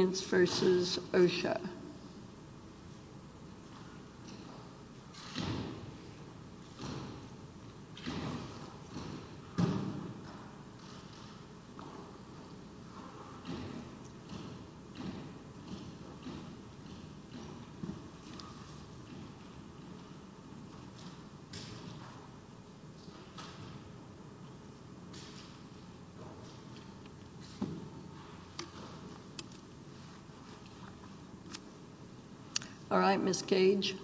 Ingredients v. OSHC All right, Ms. Cage.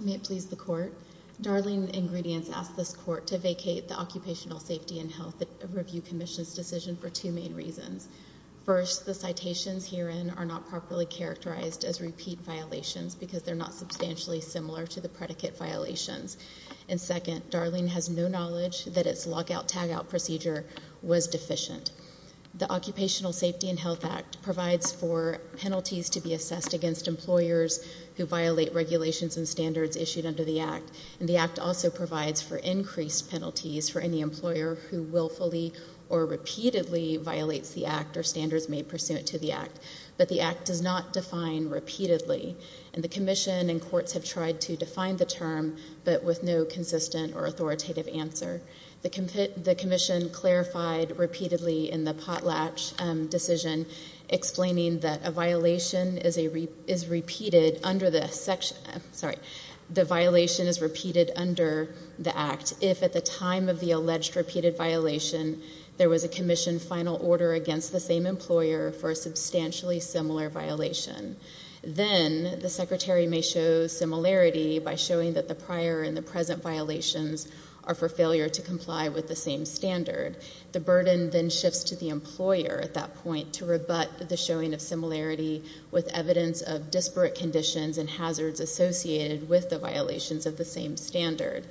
May it please the Court. Darling Ingredients asks this Court to vacate the Occupational Safety and Health Review Commission's decision for two main reasons. First, the citations herein are not properly characterized as repeat violations because they're not substantially similar to the predicate violations. And second, Darling has no knowledge that its lockout-tagout procedure was deficient. The Occupational Safety and Health Act provides for penalties to be assessed against employers who violate regulations and standards issued under the Act. And the Act also provides for increased penalties for any employer who willfully or repeatedly violates the Act or standards made pursuant to the Act. But the Act does not define repeatedly, and the Commission and courts have tried to define the term but with no consistent or authoritative answer. The Commission clarified repeatedly in the Potlatch decision explaining that a violation is repeated under the section, sorry, the violation is repeated under the Act if at the time of the alleged repeated violation there was a Commission final order against the same employer for a substantially similar violation. Then the Secretary may show similarity by showing that the prior and the present violations are for failure to comply with the same standard. The burden then shifts to the employer at that point to rebut the showing of similarity with evidence of disparate conditions and hazards associated with the violations of the same standard.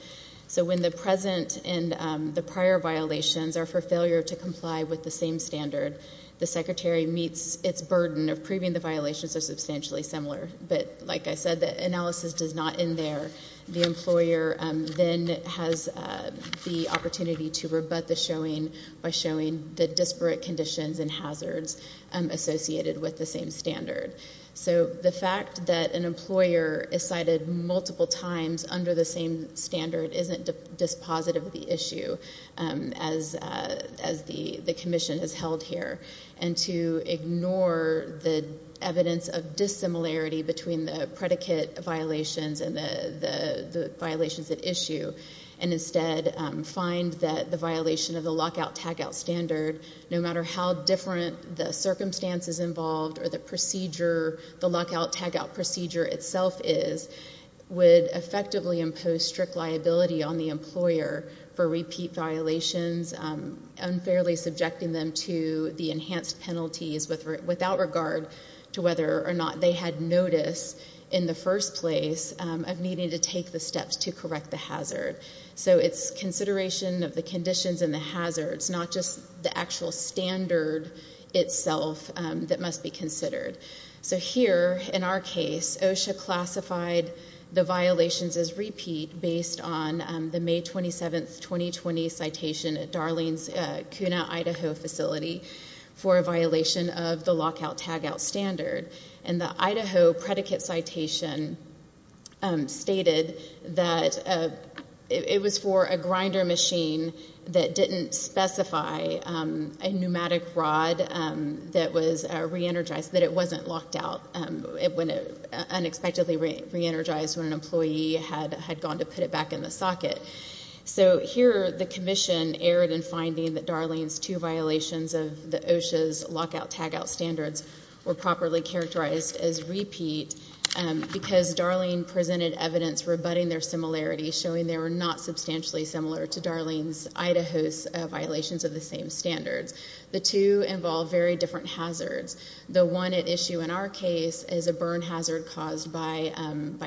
So when the present and the prior violations are for failure to comply with the same standard, the Secretary meets its burden of proving the violations are substantially similar. But like I said, the analysis does not end there. The employer then has the opportunity to rebut the showing by showing the disparate conditions and hazards associated with the same standard. So the fact that an employer is cited multiple times under the same standard isn't dispositive of the issue as the Commission has held here. And to ignore the evidence of dissimilarity between the predicate violations and the violations at issue and instead find that the violation of the lockout-tagout standard, no matter how different the circumstances involved or the procedure, the lockout-tagout procedure itself is, would effectively impose strict liability on the employer for repeat violations, unfairly subjecting them to the enhanced penalties without regard to whether or not they had notice in the first place of needing to take the steps to correct the hazard. So it's consideration of the conditions and the hazards, not just the actual standard itself that must be considered. So here, in our case, OSHA classified the violations as repeat based on the May 27, 2020, citation at Darling's Kuna, Idaho facility for a violation of the lockout-tagout standard. And the Idaho predicate citation stated that it was for a grinder machine that didn't specify a pneumatic rod that was re-energized, that it wasn't locked out. It went unexpectedly re-energized when an employee had gone to put it back in the socket. So here, the Commission erred in finding that Darling's two violations of the OSHA's lockout-tagout standards were properly characterized as repeat because Darling presented evidence rebutting their similarities, showing they were not substantially similar to Darling's Idaho's violations of the same standards. The two involve very different hazards. The one at issue in our case is a burn hazard caused by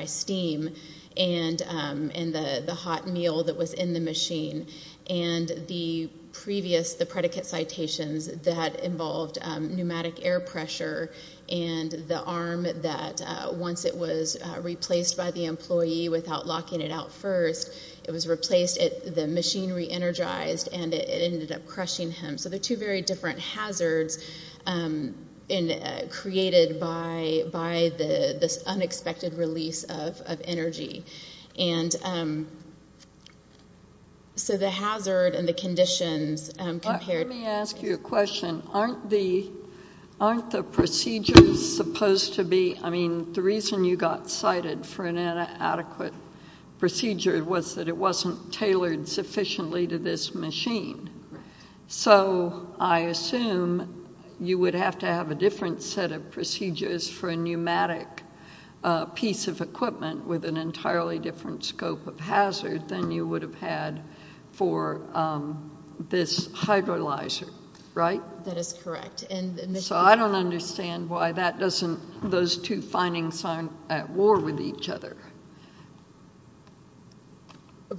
steam and the hot meal that was in the machine. And the previous, the predicate citations that involved pneumatic air pressure and the arm that once it was replaced by the employee without locking it out first, it was replaced, the machine re-energized, and it ended up crushing him. So they're two very different hazards created by this unexpected release of energy. And so the hazard and the conditions compared... Let me ask you a question. Aren't the procedures supposed to be, I mean, the reason you got cited for an inadequate procedure was that it wasn't tailored sufficiently to this machine. So I assume you would have to have a different set of procedures for a pneumatic piece of equipment with an entirely different scope of hazard than you would have had for this hydrolyzer, right? That is correct. So I don't understand why that doesn't, those two findings aren't at war with each other.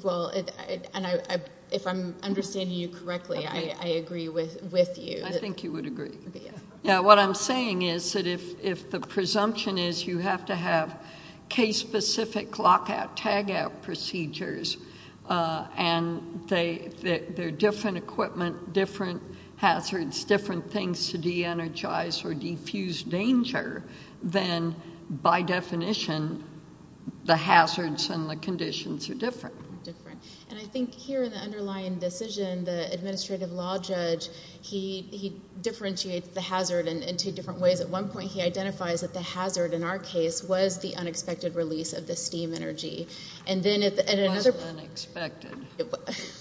Well, and if I'm understanding you correctly, I agree with you. I think you would agree. Yeah. Yeah, what I'm saying is that if the presumption is you have to have case-specific lockout, tagout procedures, and they're different equipment, different hazards, different things to de-energize or defuse danger, then by definition, the hazards and the conditions are different. Different. And I think here in the underlying decision, the administrative law judge, he differentiates the hazard in two different ways. At one point, he identifies that the hazard in our case was the unexpected release of the steam energy. It wasn't unexpected.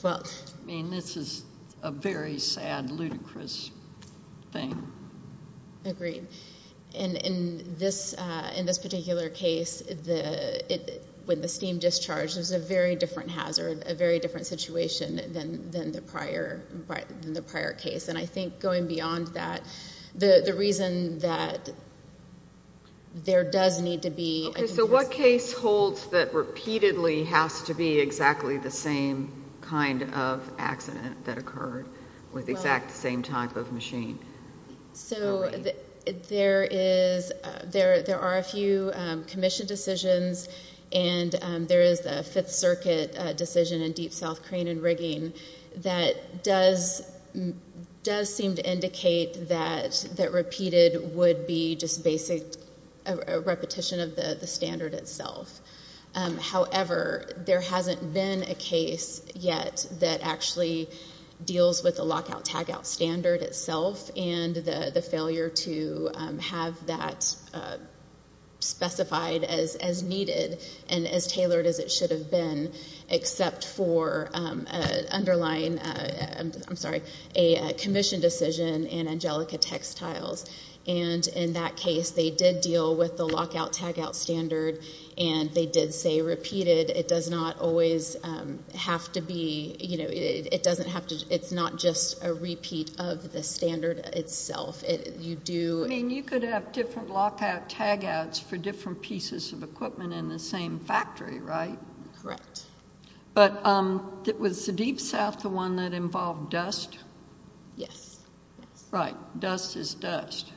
Well. I mean, this is a very sad, ludicrous thing. Agreed. And in this particular case, when the steam discharged, it was a very different hazard, a very different situation than the prior case. And I think going beyond that, the reason that there does need to be. Okay. So what case holds that repeatedly has to be exactly the same kind of accident that occurred with the exact same type of machine? So there are a few commission decisions, and there is the Fifth Circuit decision in Deep South Crane and Rigging that does seem to indicate that repeated would be just basic repetition of the standard itself. However, there hasn't been a case yet that actually deals with the lockout-tagout standard itself and the failure to have that specified as needed and as tailored as it should have been, except for underlying, I'm sorry, a commission decision in Angelica Textiles. And in that case, they did deal with the lockout-tagout standard, and they did say repeated. It does not always have to be, you know, it doesn't have to, it's not just a repeat of the standard itself. You do. I mean, you could have different lockout-tagouts for different pieces of equipment in the same factory, right? Correct. But was the Deep South the one that involved dust? Yes. Right. Dust is dust.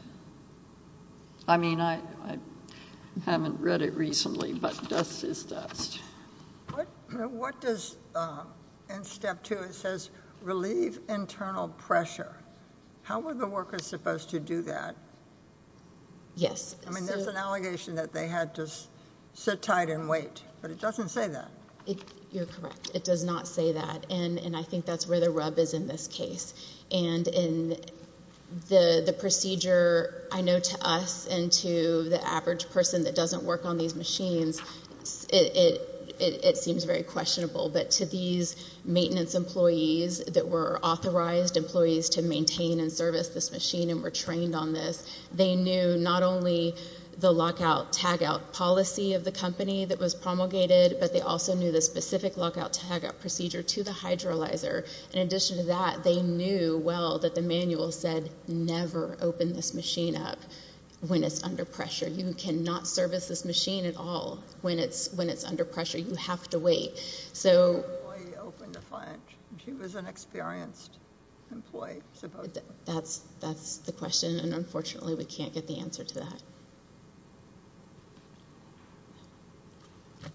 I mean, I haven't read it recently, but dust is dust. What does, in step two, it says relieve internal pressure. How were the workers supposed to do that? Yes. I mean, there's an allegation that they had to sit tight and wait, but it doesn't say that. You're correct. It does not say that, and I think that's where the rub is in this case. And in the procedure, I know to us and to the average person that doesn't work on these machines, it seems very questionable. But to these maintenance employees that were authorized employees to maintain and service this machine and were trained on this, they knew not only the lockout-tagout policy of the company that was promulgated, but they also knew the specific lockout-tagout procedure to the hydrolyzer. In addition to that, they knew well that the manual said, never open this machine up when it's under pressure. You cannot service this machine at all when it's under pressure. You have to wait. She was an experienced employee. That's the question, and unfortunately we can't get the answer to that.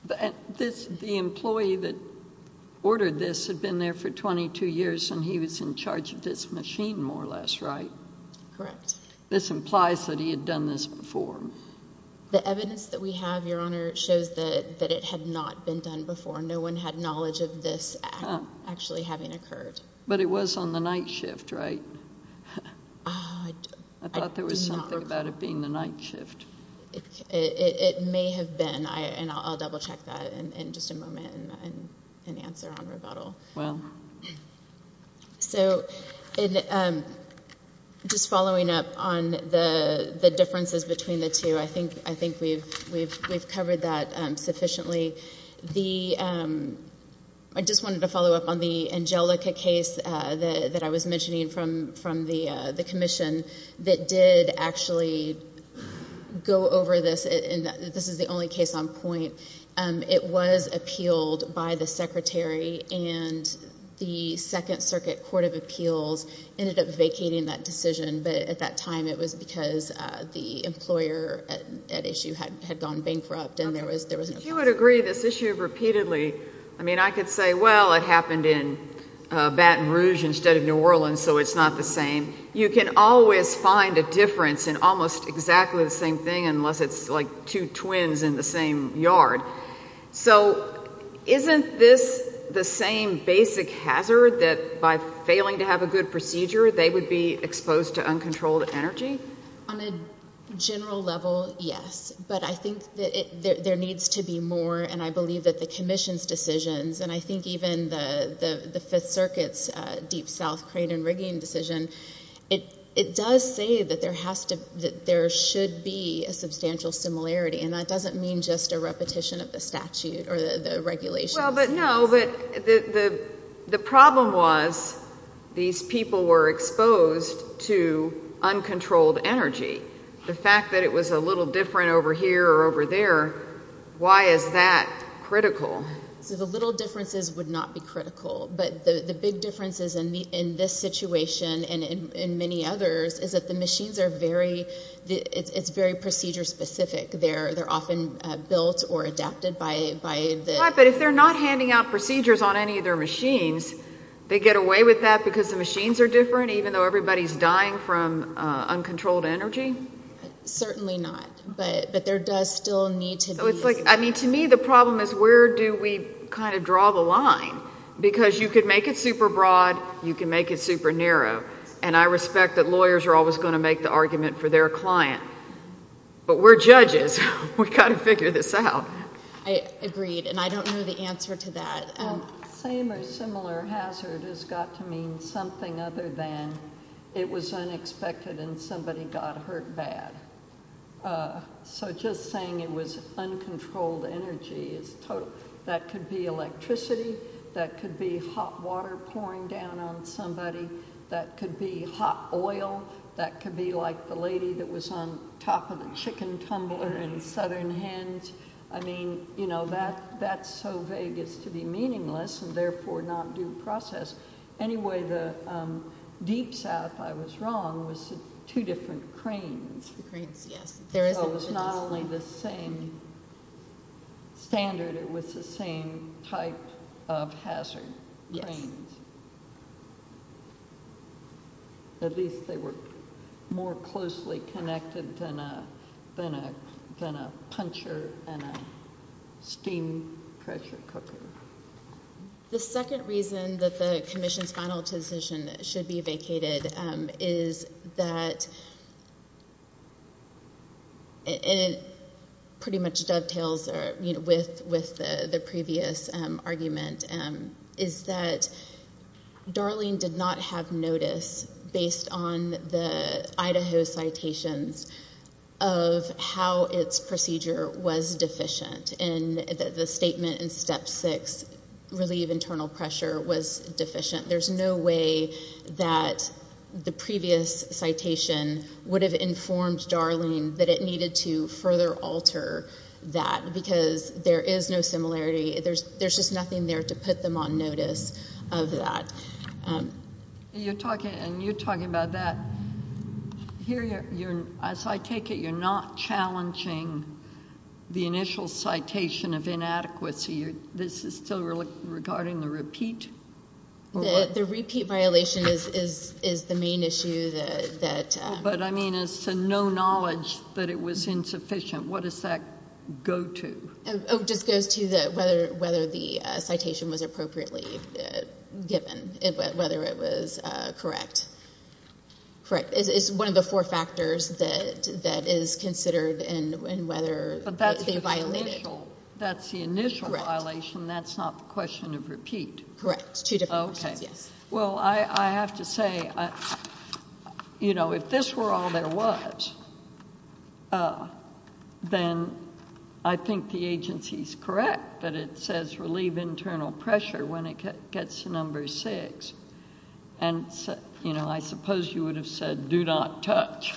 The employee that ordered this had been there for 22 years, and he was in charge of this machine more or less, right? Correct. This implies that he had done this before. The evidence that we have, Your Honor, shows that it had not been done before. No one had knowledge of this actually having occurred. But it was on the night shift, right? I thought there was something about it being the night shift. It may have been, and I'll double-check that in just a moment and answer on rebuttal. Just following up on the differences between the two, I think we've covered that sufficiently. I just wanted to follow up on the Angelica case that I was mentioning from the commission that did actually go over this. This is the only case on point. It was appealed by the Secretary, and the Second Circuit Court of Appeals ended up vacating that decision. But at that time it was because the employer at issue had gone bankrupt and there was no point. If you would agree this issue repeatedly, I mean, I could say, well, it happened in Baton Rouge instead of New Orleans, so it's not the same. You can always find a difference in almost exactly the same thing unless it's like two twins in the same yard. So isn't this the same basic hazard that by failing to have a good procedure they would be exposed to uncontrolled energy? On a general level, yes. But I think that there needs to be more, and I believe that the commission's decisions, and I think even the Fifth Circuit's Deep South Crane and Rigging decision, it does say that there should be a substantial similarity, and that doesn't mean just a repetition of the statute or the regulations. Well, but no, the problem was these people were exposed to uncontrolled energy. The fact that it was a little different over here or over there, why is that critical? So the little differences would not be critical. But the big differences in this situation and in many others is that the machines are very – it's very procedure specific. They're often built or adapted by the – Right, but if they're not handing out procedures on any of their machines, they get away with that because the machines are different, even though everybody's dying from uncontrolled energy? Certainly not, but there does still need to be – I mean, to me the problem is where do we kind of draw the line? Because you could make it super broad, you can make it super narrow, and I respect that lawyers are always going to make the argument for their client, but we're judges. We've got to figure this out. I agreed, and I don't know the answer to that. Same or similar hazard has got to mean something other than it was unexpected and somebody got hurt bad. So just saying it was uncontrolled energy is total – that could be electricity, that could be hot water pouring down on somebody, that could be hot oil, that could be like the lady that was on top of the chicken tumbler in Southern Hands. I mean, that's so vague it's to be meaningless and therefore not due process. Anyway, the Deep South, if I was wrong, was two different cranes. The cranes, yes. So it was not only the same standard, it was the same type of hazard, cranes. Yes. At least they were more closely connected than a puncher in a steam pressure cooker. The second reason that the commission's final decision should be vacated is that it pretty much dovetails with the previous argument, is that Darling did not have notice, based on the Idaho citations, of how its procedure was deficient and that the statement in step six, relieve internal pressure, was deficient. There's no way that the previous citation would have informed Darling that it needed to further alter that because there is no similarity. There's just nothing there to put them on notice of that. You're talking about that. Here, as I take it, you're not challenging the initial citation of inadequacy. This is still regarding the repeat? The repeat violation is the main issue. But, I mean, it's to no knowledge that it was insufficient. What does that go to? It just goes to whether the citation was appropriately given, whether it was correct. It's one of the four factors that is considered in whether they violated. But that's the initial violation. That's not the question of repeat. Correct. Two different questions, yes. Well, I have to say, you know, if this were all there was, then I think the agency is correct, but it says relieve internal pressure when it gets to number six. And, you know, I suppose you would have said do not touch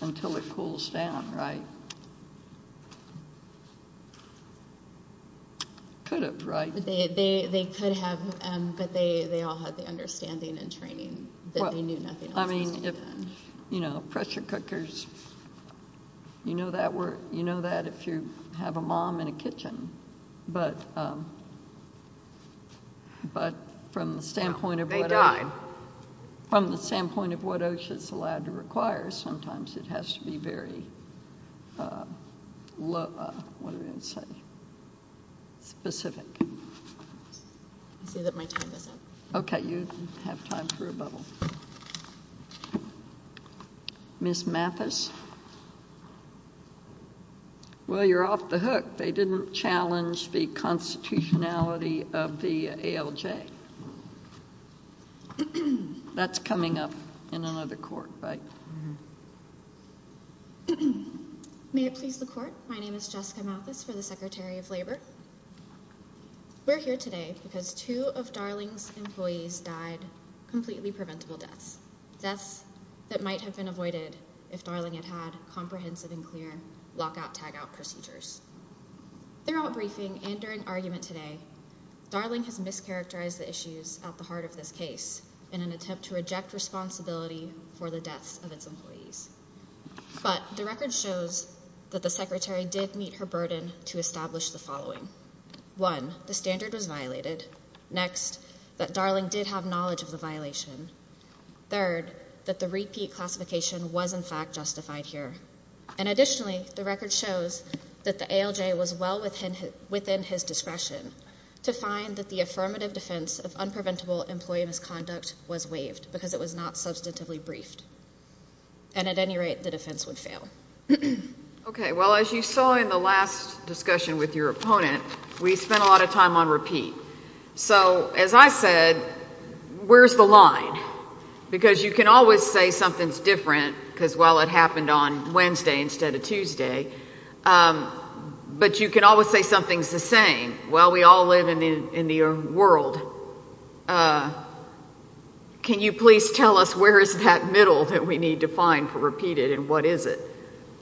until it cools down, right? Could have, right? They could have, but they all had the understanding and training that they knew nothing else was to be done. I mean, you know, pressure cookers, you know that if you have a mom in a kitchen. But from the standpoint of what OSHA is allowed to require, sometimes it has to be very specific. I say that my time is up. Okay. You have time for a bubble. Ms. Mathis? Well, you're off the hook. They didn't challenge the constitutionality of the ALJ. That's coming up in another court, right? May it please the court? My name is Jessica Mathis for the Secretary of Labor. We're here today because two of Darling's employees died completely preventable deaths, deaths that might have been avoided if Darling had had comprehensive and clear lockout-tagout procedures. Throughout briefing and during argument today, Darling has mischaracterized the issues at the heart of this case in an attempt to reject responsibility for the deaths of its employees. But the record shows that the Secretary did meet her burden to establish the following. One, the standard was violated. Next, that Darling did have knowledge of the violation. Third, that the repeat classification was, in fact, justified here. And additionally, the record shows that the ALJ was well within his discretion to find that the affirmative defense of unpreventable employee misconduct was waived because it was not substantively briefed. And at any rate, the defense would fail. Okay. Well, as you saw in the last discussion with your opponent, we spent a lot of time on repeat. So, as I said, where's the line? Because you can always say something's different because, well, it happened on Wednesday instead of Tuesday. But you can always say something's the same. Well, we all live in the world. Can you please tell us where is that middle that we need to find for repeated and what is it?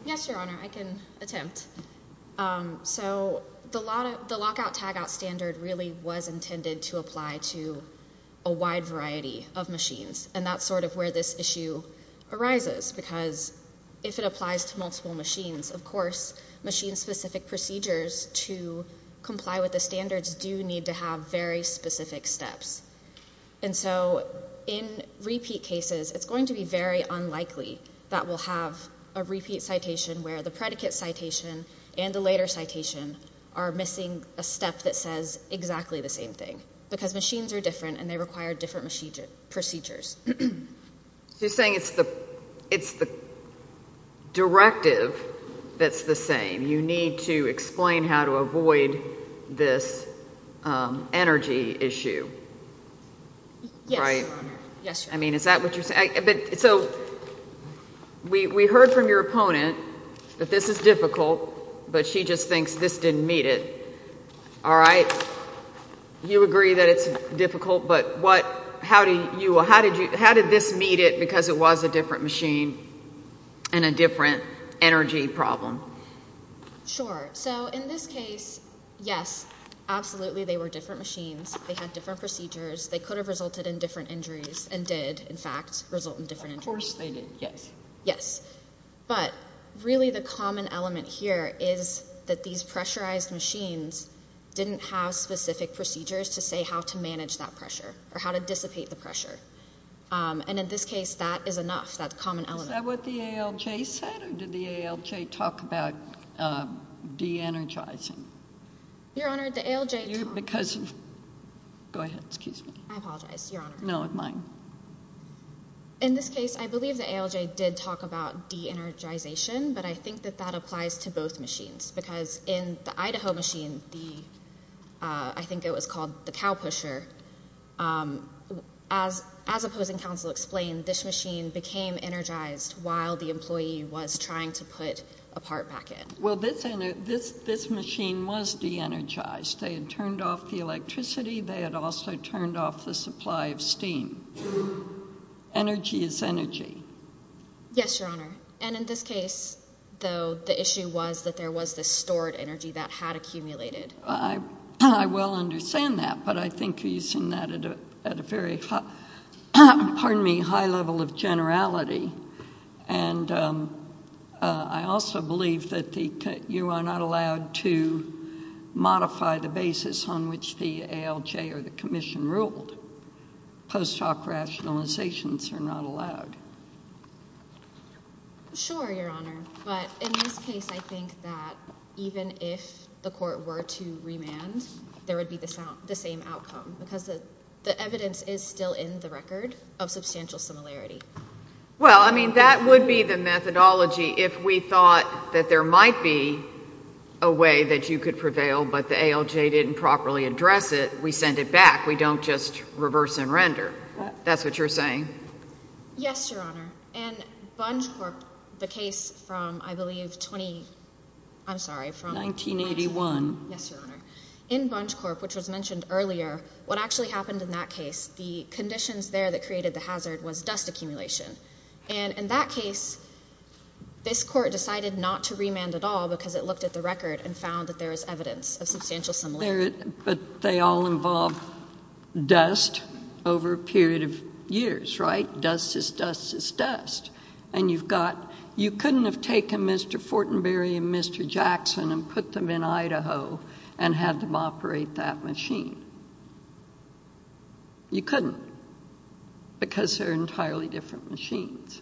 Yes, Your Honor. I can attempt. So the lockout-tagout standard really was intended to apply to a wide variety of machines, and that's sort of where this issue arises because if it applies to multiple machines, of course, machine-specific procedures to comply with the standards do need to have very specific steps. And so in repeat cases, it's going to be very unlikely that we'll have a repeat citation where the predicate citation and the later citation are missing a step that says exactly the same thing because machines are different and they require different procedures. So you're saying it's the directive that's the same. You need to explain how to avoid this energy issue. Yes, Your Honor. I mean, is that what you're saying? So we heard from your opponent that this is difficult, but she just thinks this didn't meet it. All right. You agree that it's difficult, but how did this meet it because it was a different machine and a different energy problem? Sure. So in this case, yes, absolutely they were different machines. They had different procedures. They could have resulted in different injuries and did, in fact, result in different injuries. Of course they did, yes. Yes. But really the common element here is that these pressurized machines didn't have specific procedures to say how to manage that pressure or how to dissipate the pressure. And in this case, that is enough. That's the common element. Is that what the ALJ said, or did the ALJ talk about de-energizing? Your Honor, the ALJ talked about de-energizing. Go ahead. Excuse me. I apologize, Your Honor. No, mine. In this case, I believe the ALJ did talk about de-energization, but I think that that applies to both machines because in the Idaho machine, I think it was called the Cow Pusher, as opposing counsel explained, this machine became energized while the employee was trying to put a part back in. Well, this machine was de-energized. They had turned off the electricity. They had also turned off the supply of steam. Energy is energy. Yes, Your Honor. And in this case, though, the issue was that there was this stored energy that had accumulated. I well understand that, but I think you're using that at a very high level of generality. And I also believe that you are not allowed to modify the basis on which the ALJ or the commission ruled. Post hoc rationalizations are not allowed. Sure, Your Honor. But in this case, I think that even if the court were to remand, there would be the same outcome because the evidence is still in the record of substantial similarity. Well, I mean, that would be the methodology if we thought that there might be a way that you could prevail, but the ALJ didn't properly address it. We send it back. We don't just reverse and render. That's what you're saying? Yes, Your Honor. In Bunch Corp, the case from, I believe, 20, I'm sorry, from 1981. Yes, Your Honor. In Bunch Corp, which was mentioned earlier, what actually happened in that case, the conditions there that created the hazard was dust accumulation. And in that case, this court decided not to remand at all because it looked at the record and found that there was evidence of substantial similarity. But they all involve dust over a period of years, right? Dust is dust is dust. And you've got you couldn't have taken Mr. Fortenberry and Mr. Jackson and put them in Idaho and had them operate that machine. You couldn't because they're entirely different machines.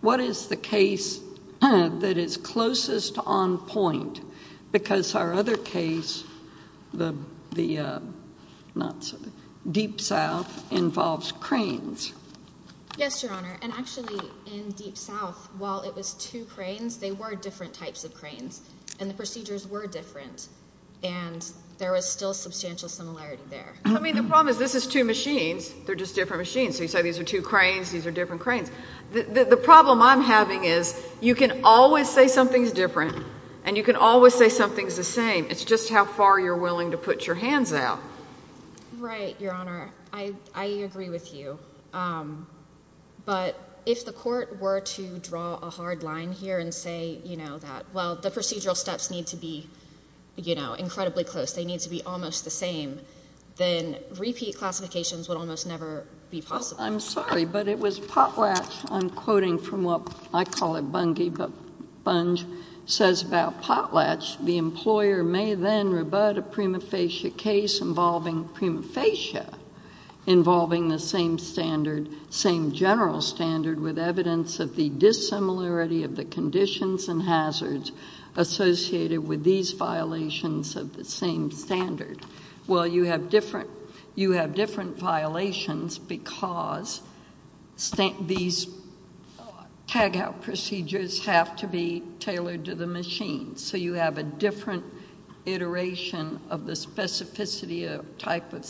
What is the case that is closest on point? Because our other case, the Deep South, involves cranes. Yes, Your Honor. And actually, in Deep South, while it was two cranes, they were different types of cranes. And the procedures were different. And there was still substantial similarity there. I mean, the problem is this is two machines. They're just different machines. So you say these are two cranes. These are different cranes. The problem I'm having is you can always say something's different and you can always say something's the same. It's just how far you're willing to put your hands out. Right, Your Honor. I agree with you. But if the court were to draw a hard line here and say, you know, well, the procedural steps need to be, you know, incredibly close, they need to be almost the same, then repeat classifications would almost never be possible. I'm sorry, but it was Potlatch. I'm quoting from what I call a bungee, but Bunge says about Potlatch, the employer may then rebut a prima facie case involving prima facie, involving the same standard, same general standard, with evidence of the dissimilarity of the conditions and hazards associated with these violations of the same standard. Well, you have different violations because these tag-out procedures have to be tailored to the machine. So you have a different iteration of the specificity of type of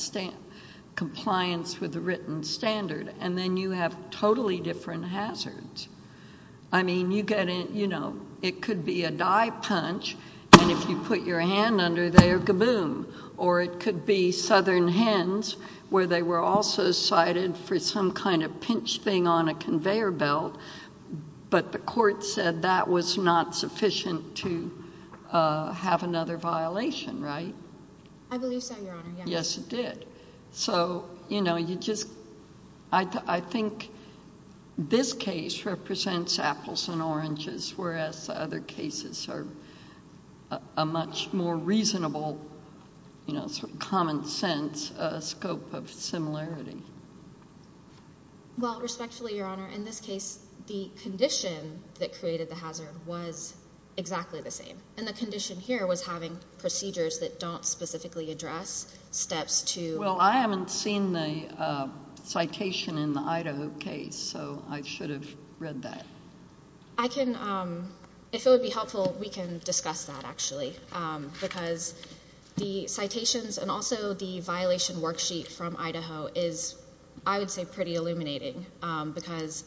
compliance with the written standard. And then you have totally different hazards. I mean, you get in, you know, it could be a die punch, and if you put your hand under there, kaboom. Or it could be southern hens, where they were also cited for some kind of pinch thing on a conveyor belt, but the court said that was not sufficient to have another violation, right? I believe so, Your Honor, yes. Yes, it did. So, you know, you just, I think this case represents apples and oranges, whereas other cases are a much more reasonable, you know, common sense scope of similarity. Well, respectfully, Your Honor, in this case, the condition that created the hazard was exactly the same, and the condition here was having procedures that don't specifically address steps to. Well, I haven't seen the citation in the Idaho case, so I should have read that. I can. If it would be helpful, we can discuss that, actually, because the citations and also the violation worksheet from Idaho is, I would say, pretty illuminating, because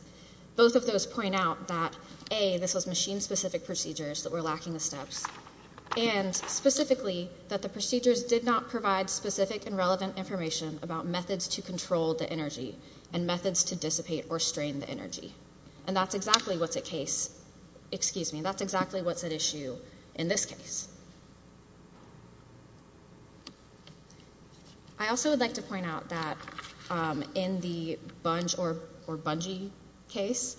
both of those point out that, A, this was machine-specific procedures that were lacking the steps, and specifically that the procedures did not provide specific and relevant information about methods to control the energy and methods to dissipate or strain the energy. And that's exactly what's at issue in this case. I also would like to point out that in the Bungee case,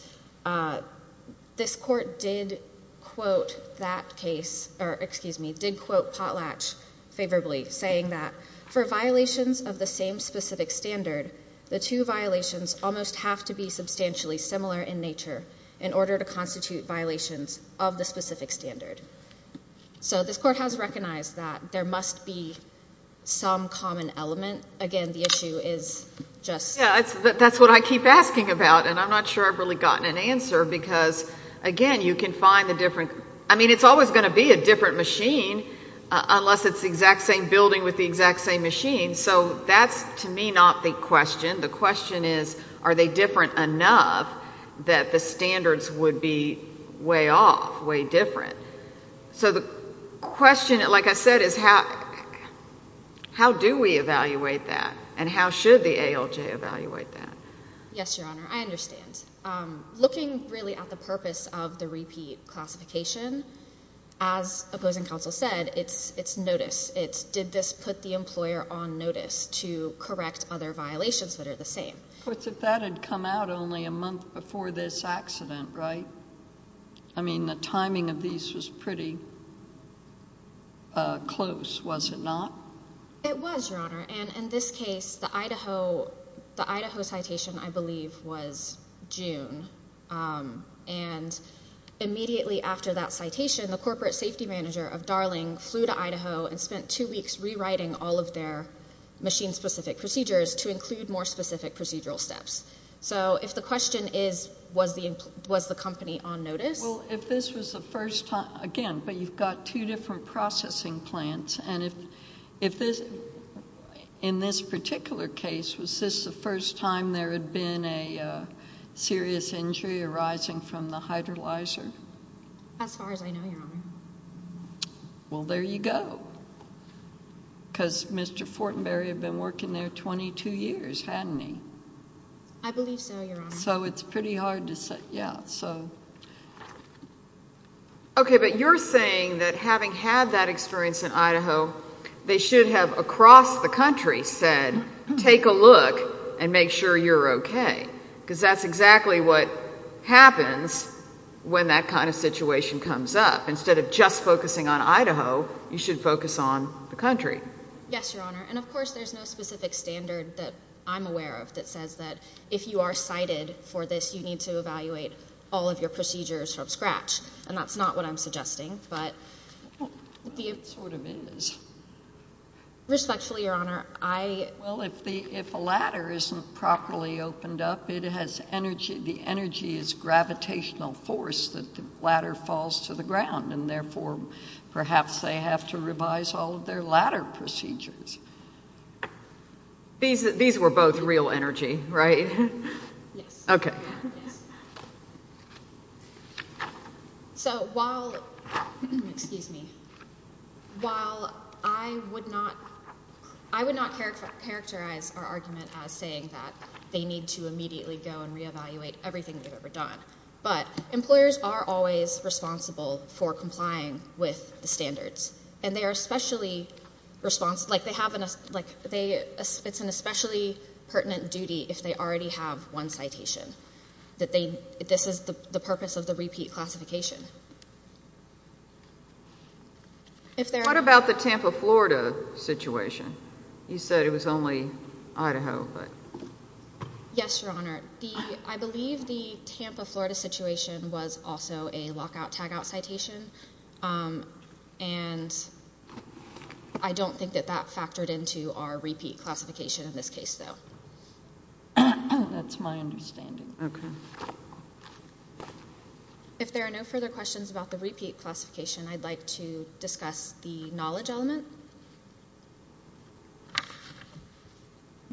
this court did quote that case, or excuse me, did quote Potlatch favorably, saying that, for violations of the same specific standard, the two violations almost have to be substantially similar in nature in order to constitute violations of the specific standard. So this court has recognized that there must be some common element. Again, the issue is just... Yeah, that's what I keep asking about, and I'm not sure I've really gotten an answer, because, again, you can find the different... I mean, it's always going to be a different machine, unless it's the exact same building with the exact same machine. So that's, to me, not the question. The question is, are they different enough that the standards would be way off, way different? So the question, like I said, is how do we evaluate that, and how should the ALJ evaluate that? Yes, Your Honor, I understand. Looking really at the purpose of the repeat classification, as opposing counsel said, it's notice. It's did this put the employer on notice to correct other violations that are the same? But that had come out only a month before this accident, right? I mean, the timing of these was pretty close, was it not? It was, Your Honor, and in this case, the Idaho citation, I believe, was June, and immediately after that citation, the corporate safety manager of Darling flew to Idaho and spent two weeks rewriting all of their machine-specific procedures to include more specific procedural steps. So if the question is, was the company on notice? Well, if this was the first time... Again, but you've got two different processing plants, and in this particular case, was this the first time there had been a serious injury arising from the hydrolyzer? As far as I know, Your Honor. Well, there you go, because Mr. Fortenberry had been working there 22 years, hadn't he? I believe so, Your Honor. So it's pretty hard to say. Yeah, so... Okay, but you're saying that having had that experience in Idaho, they should have, across the country, said, take a look and make sure you're okay, because that's exactly what happens when that kind of situation comes up. Instead of just focusing on Idaho, you should focus on the country. Yes, Your Honor, and of course there's no specific standard that I'm aware of that says that if you are cited for this, you need to evaluate all of your procedures from scratch, and that's not what I'm suggesting, but... It sort of is. Respectfully, Your Honor, I... Well, if a ladder isn't properly opened up, the energy is gravitational force that the ladder falls to the ground, and therefore perhaps they have to revise all of their ladder procedures. These were both real energy, right? Yes. So while... Excuse me. While I would not characterize our argument as saying that they need to immediately go and re-evaluate everything they've ever done, but employers are always responsible for complying with the standards, and they are especially responsible... It's an especially pertinent duty if they already have one citation, that this is the purpose of the repeat classification. What about the Tampa, Florida situation? You said it was only Idaho, but... Yes, Your Honor. I believe the Tampa, Florida situation was also a lockout-tagout citation, and I don't think that that factored into our repeat classification in this case, though. That's my understanding. Okay. If there are no further questions about the repeat classification, I'd like to discuss the knowledge element.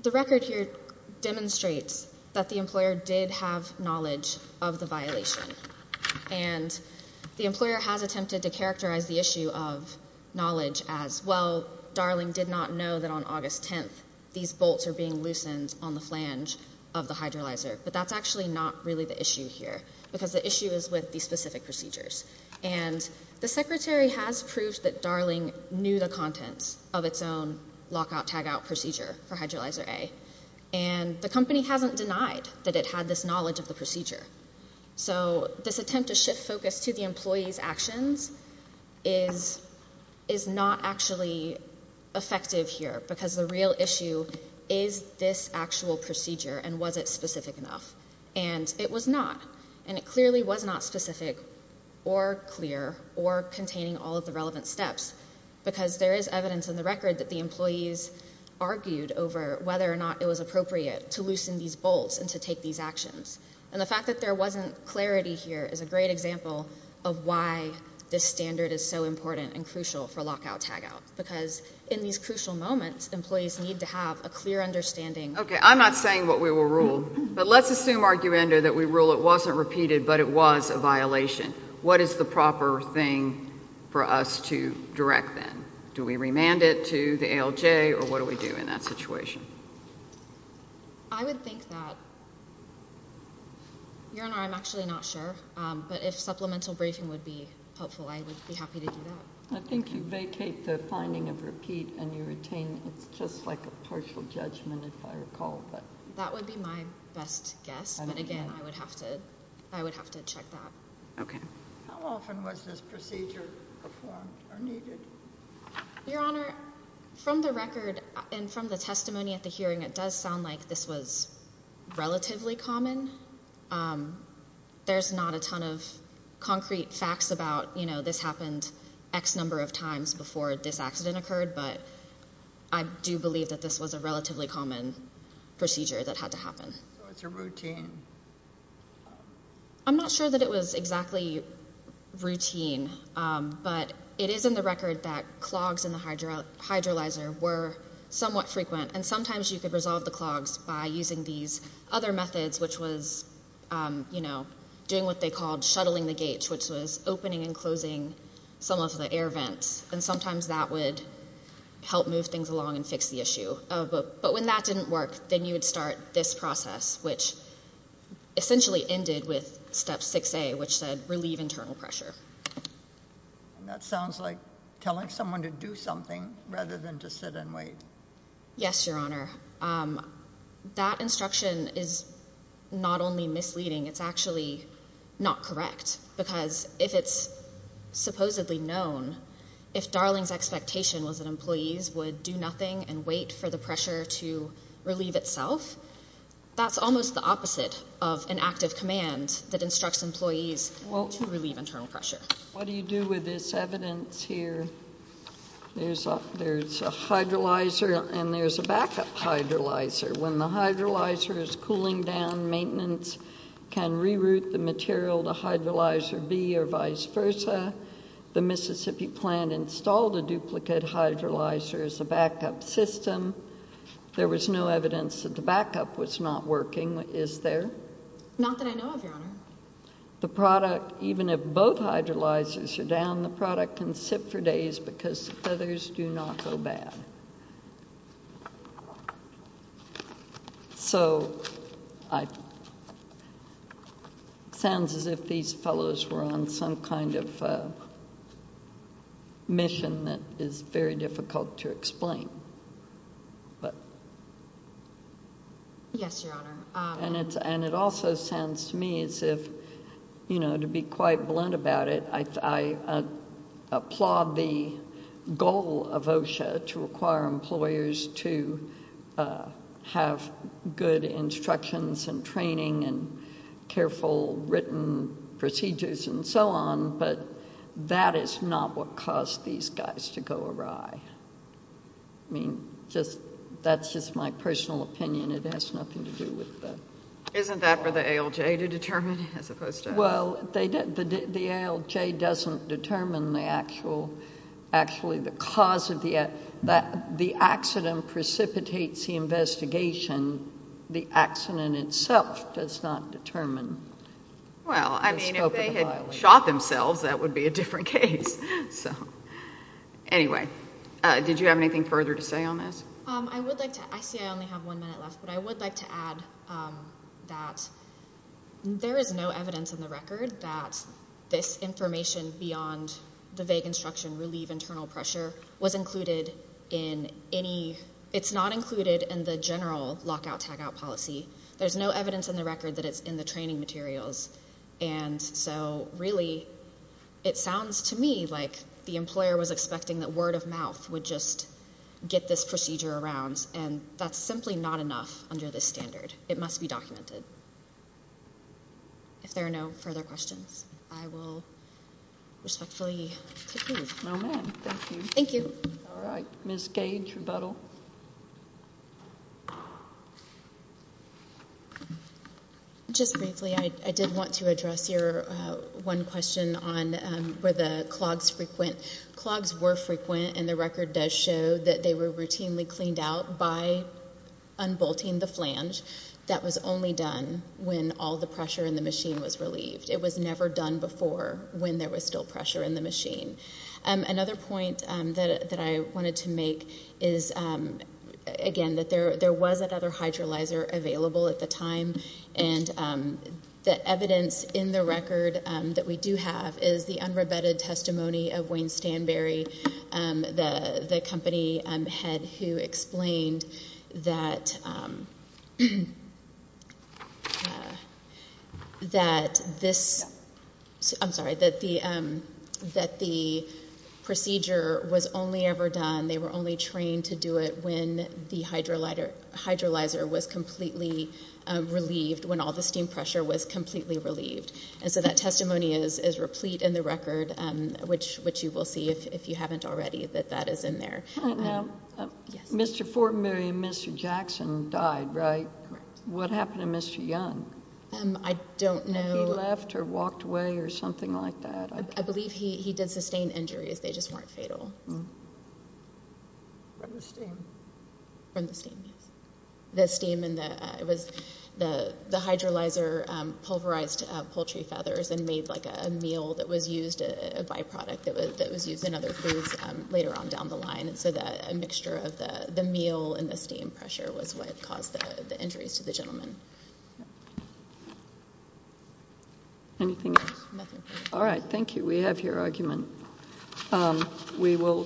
The record here demonstrates that the employer did have knowledge of the violation, and the employer has attempted to characterize the issue of knowledge as, well, Darling did not know that on August 10th these bolts are being loosened on the flange of the hydrolyzer, but that's actually not really the issue here, because the issue is with these specific procedures. And the secretary has proved that Darling knew the contents of its own lockout-tagout procedure for hydrolyzer A, and the company hasn't denied that it had this knowledge of the procedure. So this attempt to shift focus to the employee's actions is not actually effective here, because the real issue is this actual procedure, and was it specific enough? And it was not, and it clearly was not specific or clear or containing all of the relevant steps, because there is evidence in the record that the employees argued over whether or not it was appropriate to loosen these bolts and to take these actions. And the fact that there wasn't clarity here is a great example of why this standard is so important and crucial for lockout-tagout, because in these crucial moments, employees need to have a clear understanding... Okay, I'm not saying what we will rule, but let's assume, arguendo, that we rule it wasn't repeated but it was a violation. What is the proper thing for us to direct then? Do we remand it to the ALJ, or what do we do in that situation? I would think that... Your Honour, I'm actually not sure, but if supplemental briefing would be helpful, I would be happy to do that. I think you vacate the finding of repeat, and you retain it's just like a partial judgment, if I recall. That would be my best guess, but again, I would have to check that. Okay. How often was this procedure performed or needed? Your Honour, from the record and from the testimony at the hearing, it does sound like this was relatively common. There's not a ton of concrete facts about, you know, this happened X number of times before this accident occurred, but I do believe that this was a relatively common procedure that had to happen. So it's a routine? I'm not sure that it was exactly routine, but it is in the record that clogs in the hydrolyzer were somewhat frequent, and sometimes you could resolve the clogs by using these other methods, which was, you know, doing what they called shuttling the gates, which was opening and closing some of the air vents, and sometimes that would help move things along and fix the issue. But when that didn't work, then you would start this process, which essentially ended with Step 6A, which said relieve internal pressure. That sounds like telling someone to do something rather than to sit and wait. Yes, Your Honor. That instruction is not only misleading, it's actually not correct, because if it's supposedly known, if Darling's expectation was that employees would do nothing and wait for the pressure to relieve itself, that's almost the opposite of an active command that instructs employees to relieve internal pressure. What do you do with this evidence here? There's a hydrolyzer and there's a backup hydrolyzer. When the hydrolyzer is cooling down, maintenance can reroute the material to hydrolyzer B or vice versa. The Mississippi plant installed a duplicate hydrolyzer as a backup system. There was no evidence that the backup was not working, is there? Not that I know of, Your Honor. The product, even if both hydrolyzers are down, the product can sit for days because the feathers do not go bad. So it sounds as if these fellows were on some kind of mission that is very difficult to explain. Yes, Your Honor. And it also sounds to me as if, to be quite blunt about it, I applaud the goal of OSHA to require employers to have good instructions and training and careful written procedures and so on, but that is not what caused these guys to go awry. I mean, that's just my personal opinion. It has nothing to do with the law. Isn't that for the ALJ to determine as opposed to us? Well, the ALJ doesn't determine actually the cause of the accident precipitates the investigation. The accident itself does not determine the scope of the violation. Well, I mean, if they had shot themselves, that would be a different case. Anyway, did you have anything further to say on this? I see I only have one minute left, but I would like to add that there is no evidence in the record that this information beyond the vague instruction, relieve internal pressure, was included in any. It's not included in the general lockout-tagout policy. There's no evidence in the record that it's in the training materials, and so really it sounds to me like the employer was expecting that word of mouth would just get this procedure around, and that's simply not enough under this standard. It must be documented. If there are no further questions, I will respectfully take these. No, ma'am. Thank you. Thank you. All right, Ms. Gage, rebuttal. Just briefly, I did want to address your one question on where the clogs frequent. And the record does show that they were routinely cleaned out by unbolting the flange. That was only done when all the pressure in the machine was relieved. It was never done before when there was still pressure in the machine. Another point that I wanted to make is, again, that there was another hydrolyzer available at the time, and the evidence in the record that we do have is the unrebutted testimony of Wayne Stanberry, the company head who explained that this, I'm sorry, that the procedure was only ever done, they were only trained to do it when the hydrolyzer was completely relieved, when all the steam pressure was completely relieved. And so that testimony is replete in the record, which you will see, if you haven't already, that that is in there. Now, Mr. Fortenberry and Mr. Jackson died, right? Correct. What happened to Mr. Young? I don't know. Did he left or walked away or something like that? I believe he did sustain injuries. They just weren't fatal. From the steam. From the steam, yes. The steam and it was the hydrolyzer pulverized poultry feathers and made like a meal that was used, a byproduct that was used in other foods later on down the line. So a mixture of the meal and the steam pressure was what caused the injuries to the gentleman. Anything else? Nothing. All right. Thank you. We have your argument. We will take.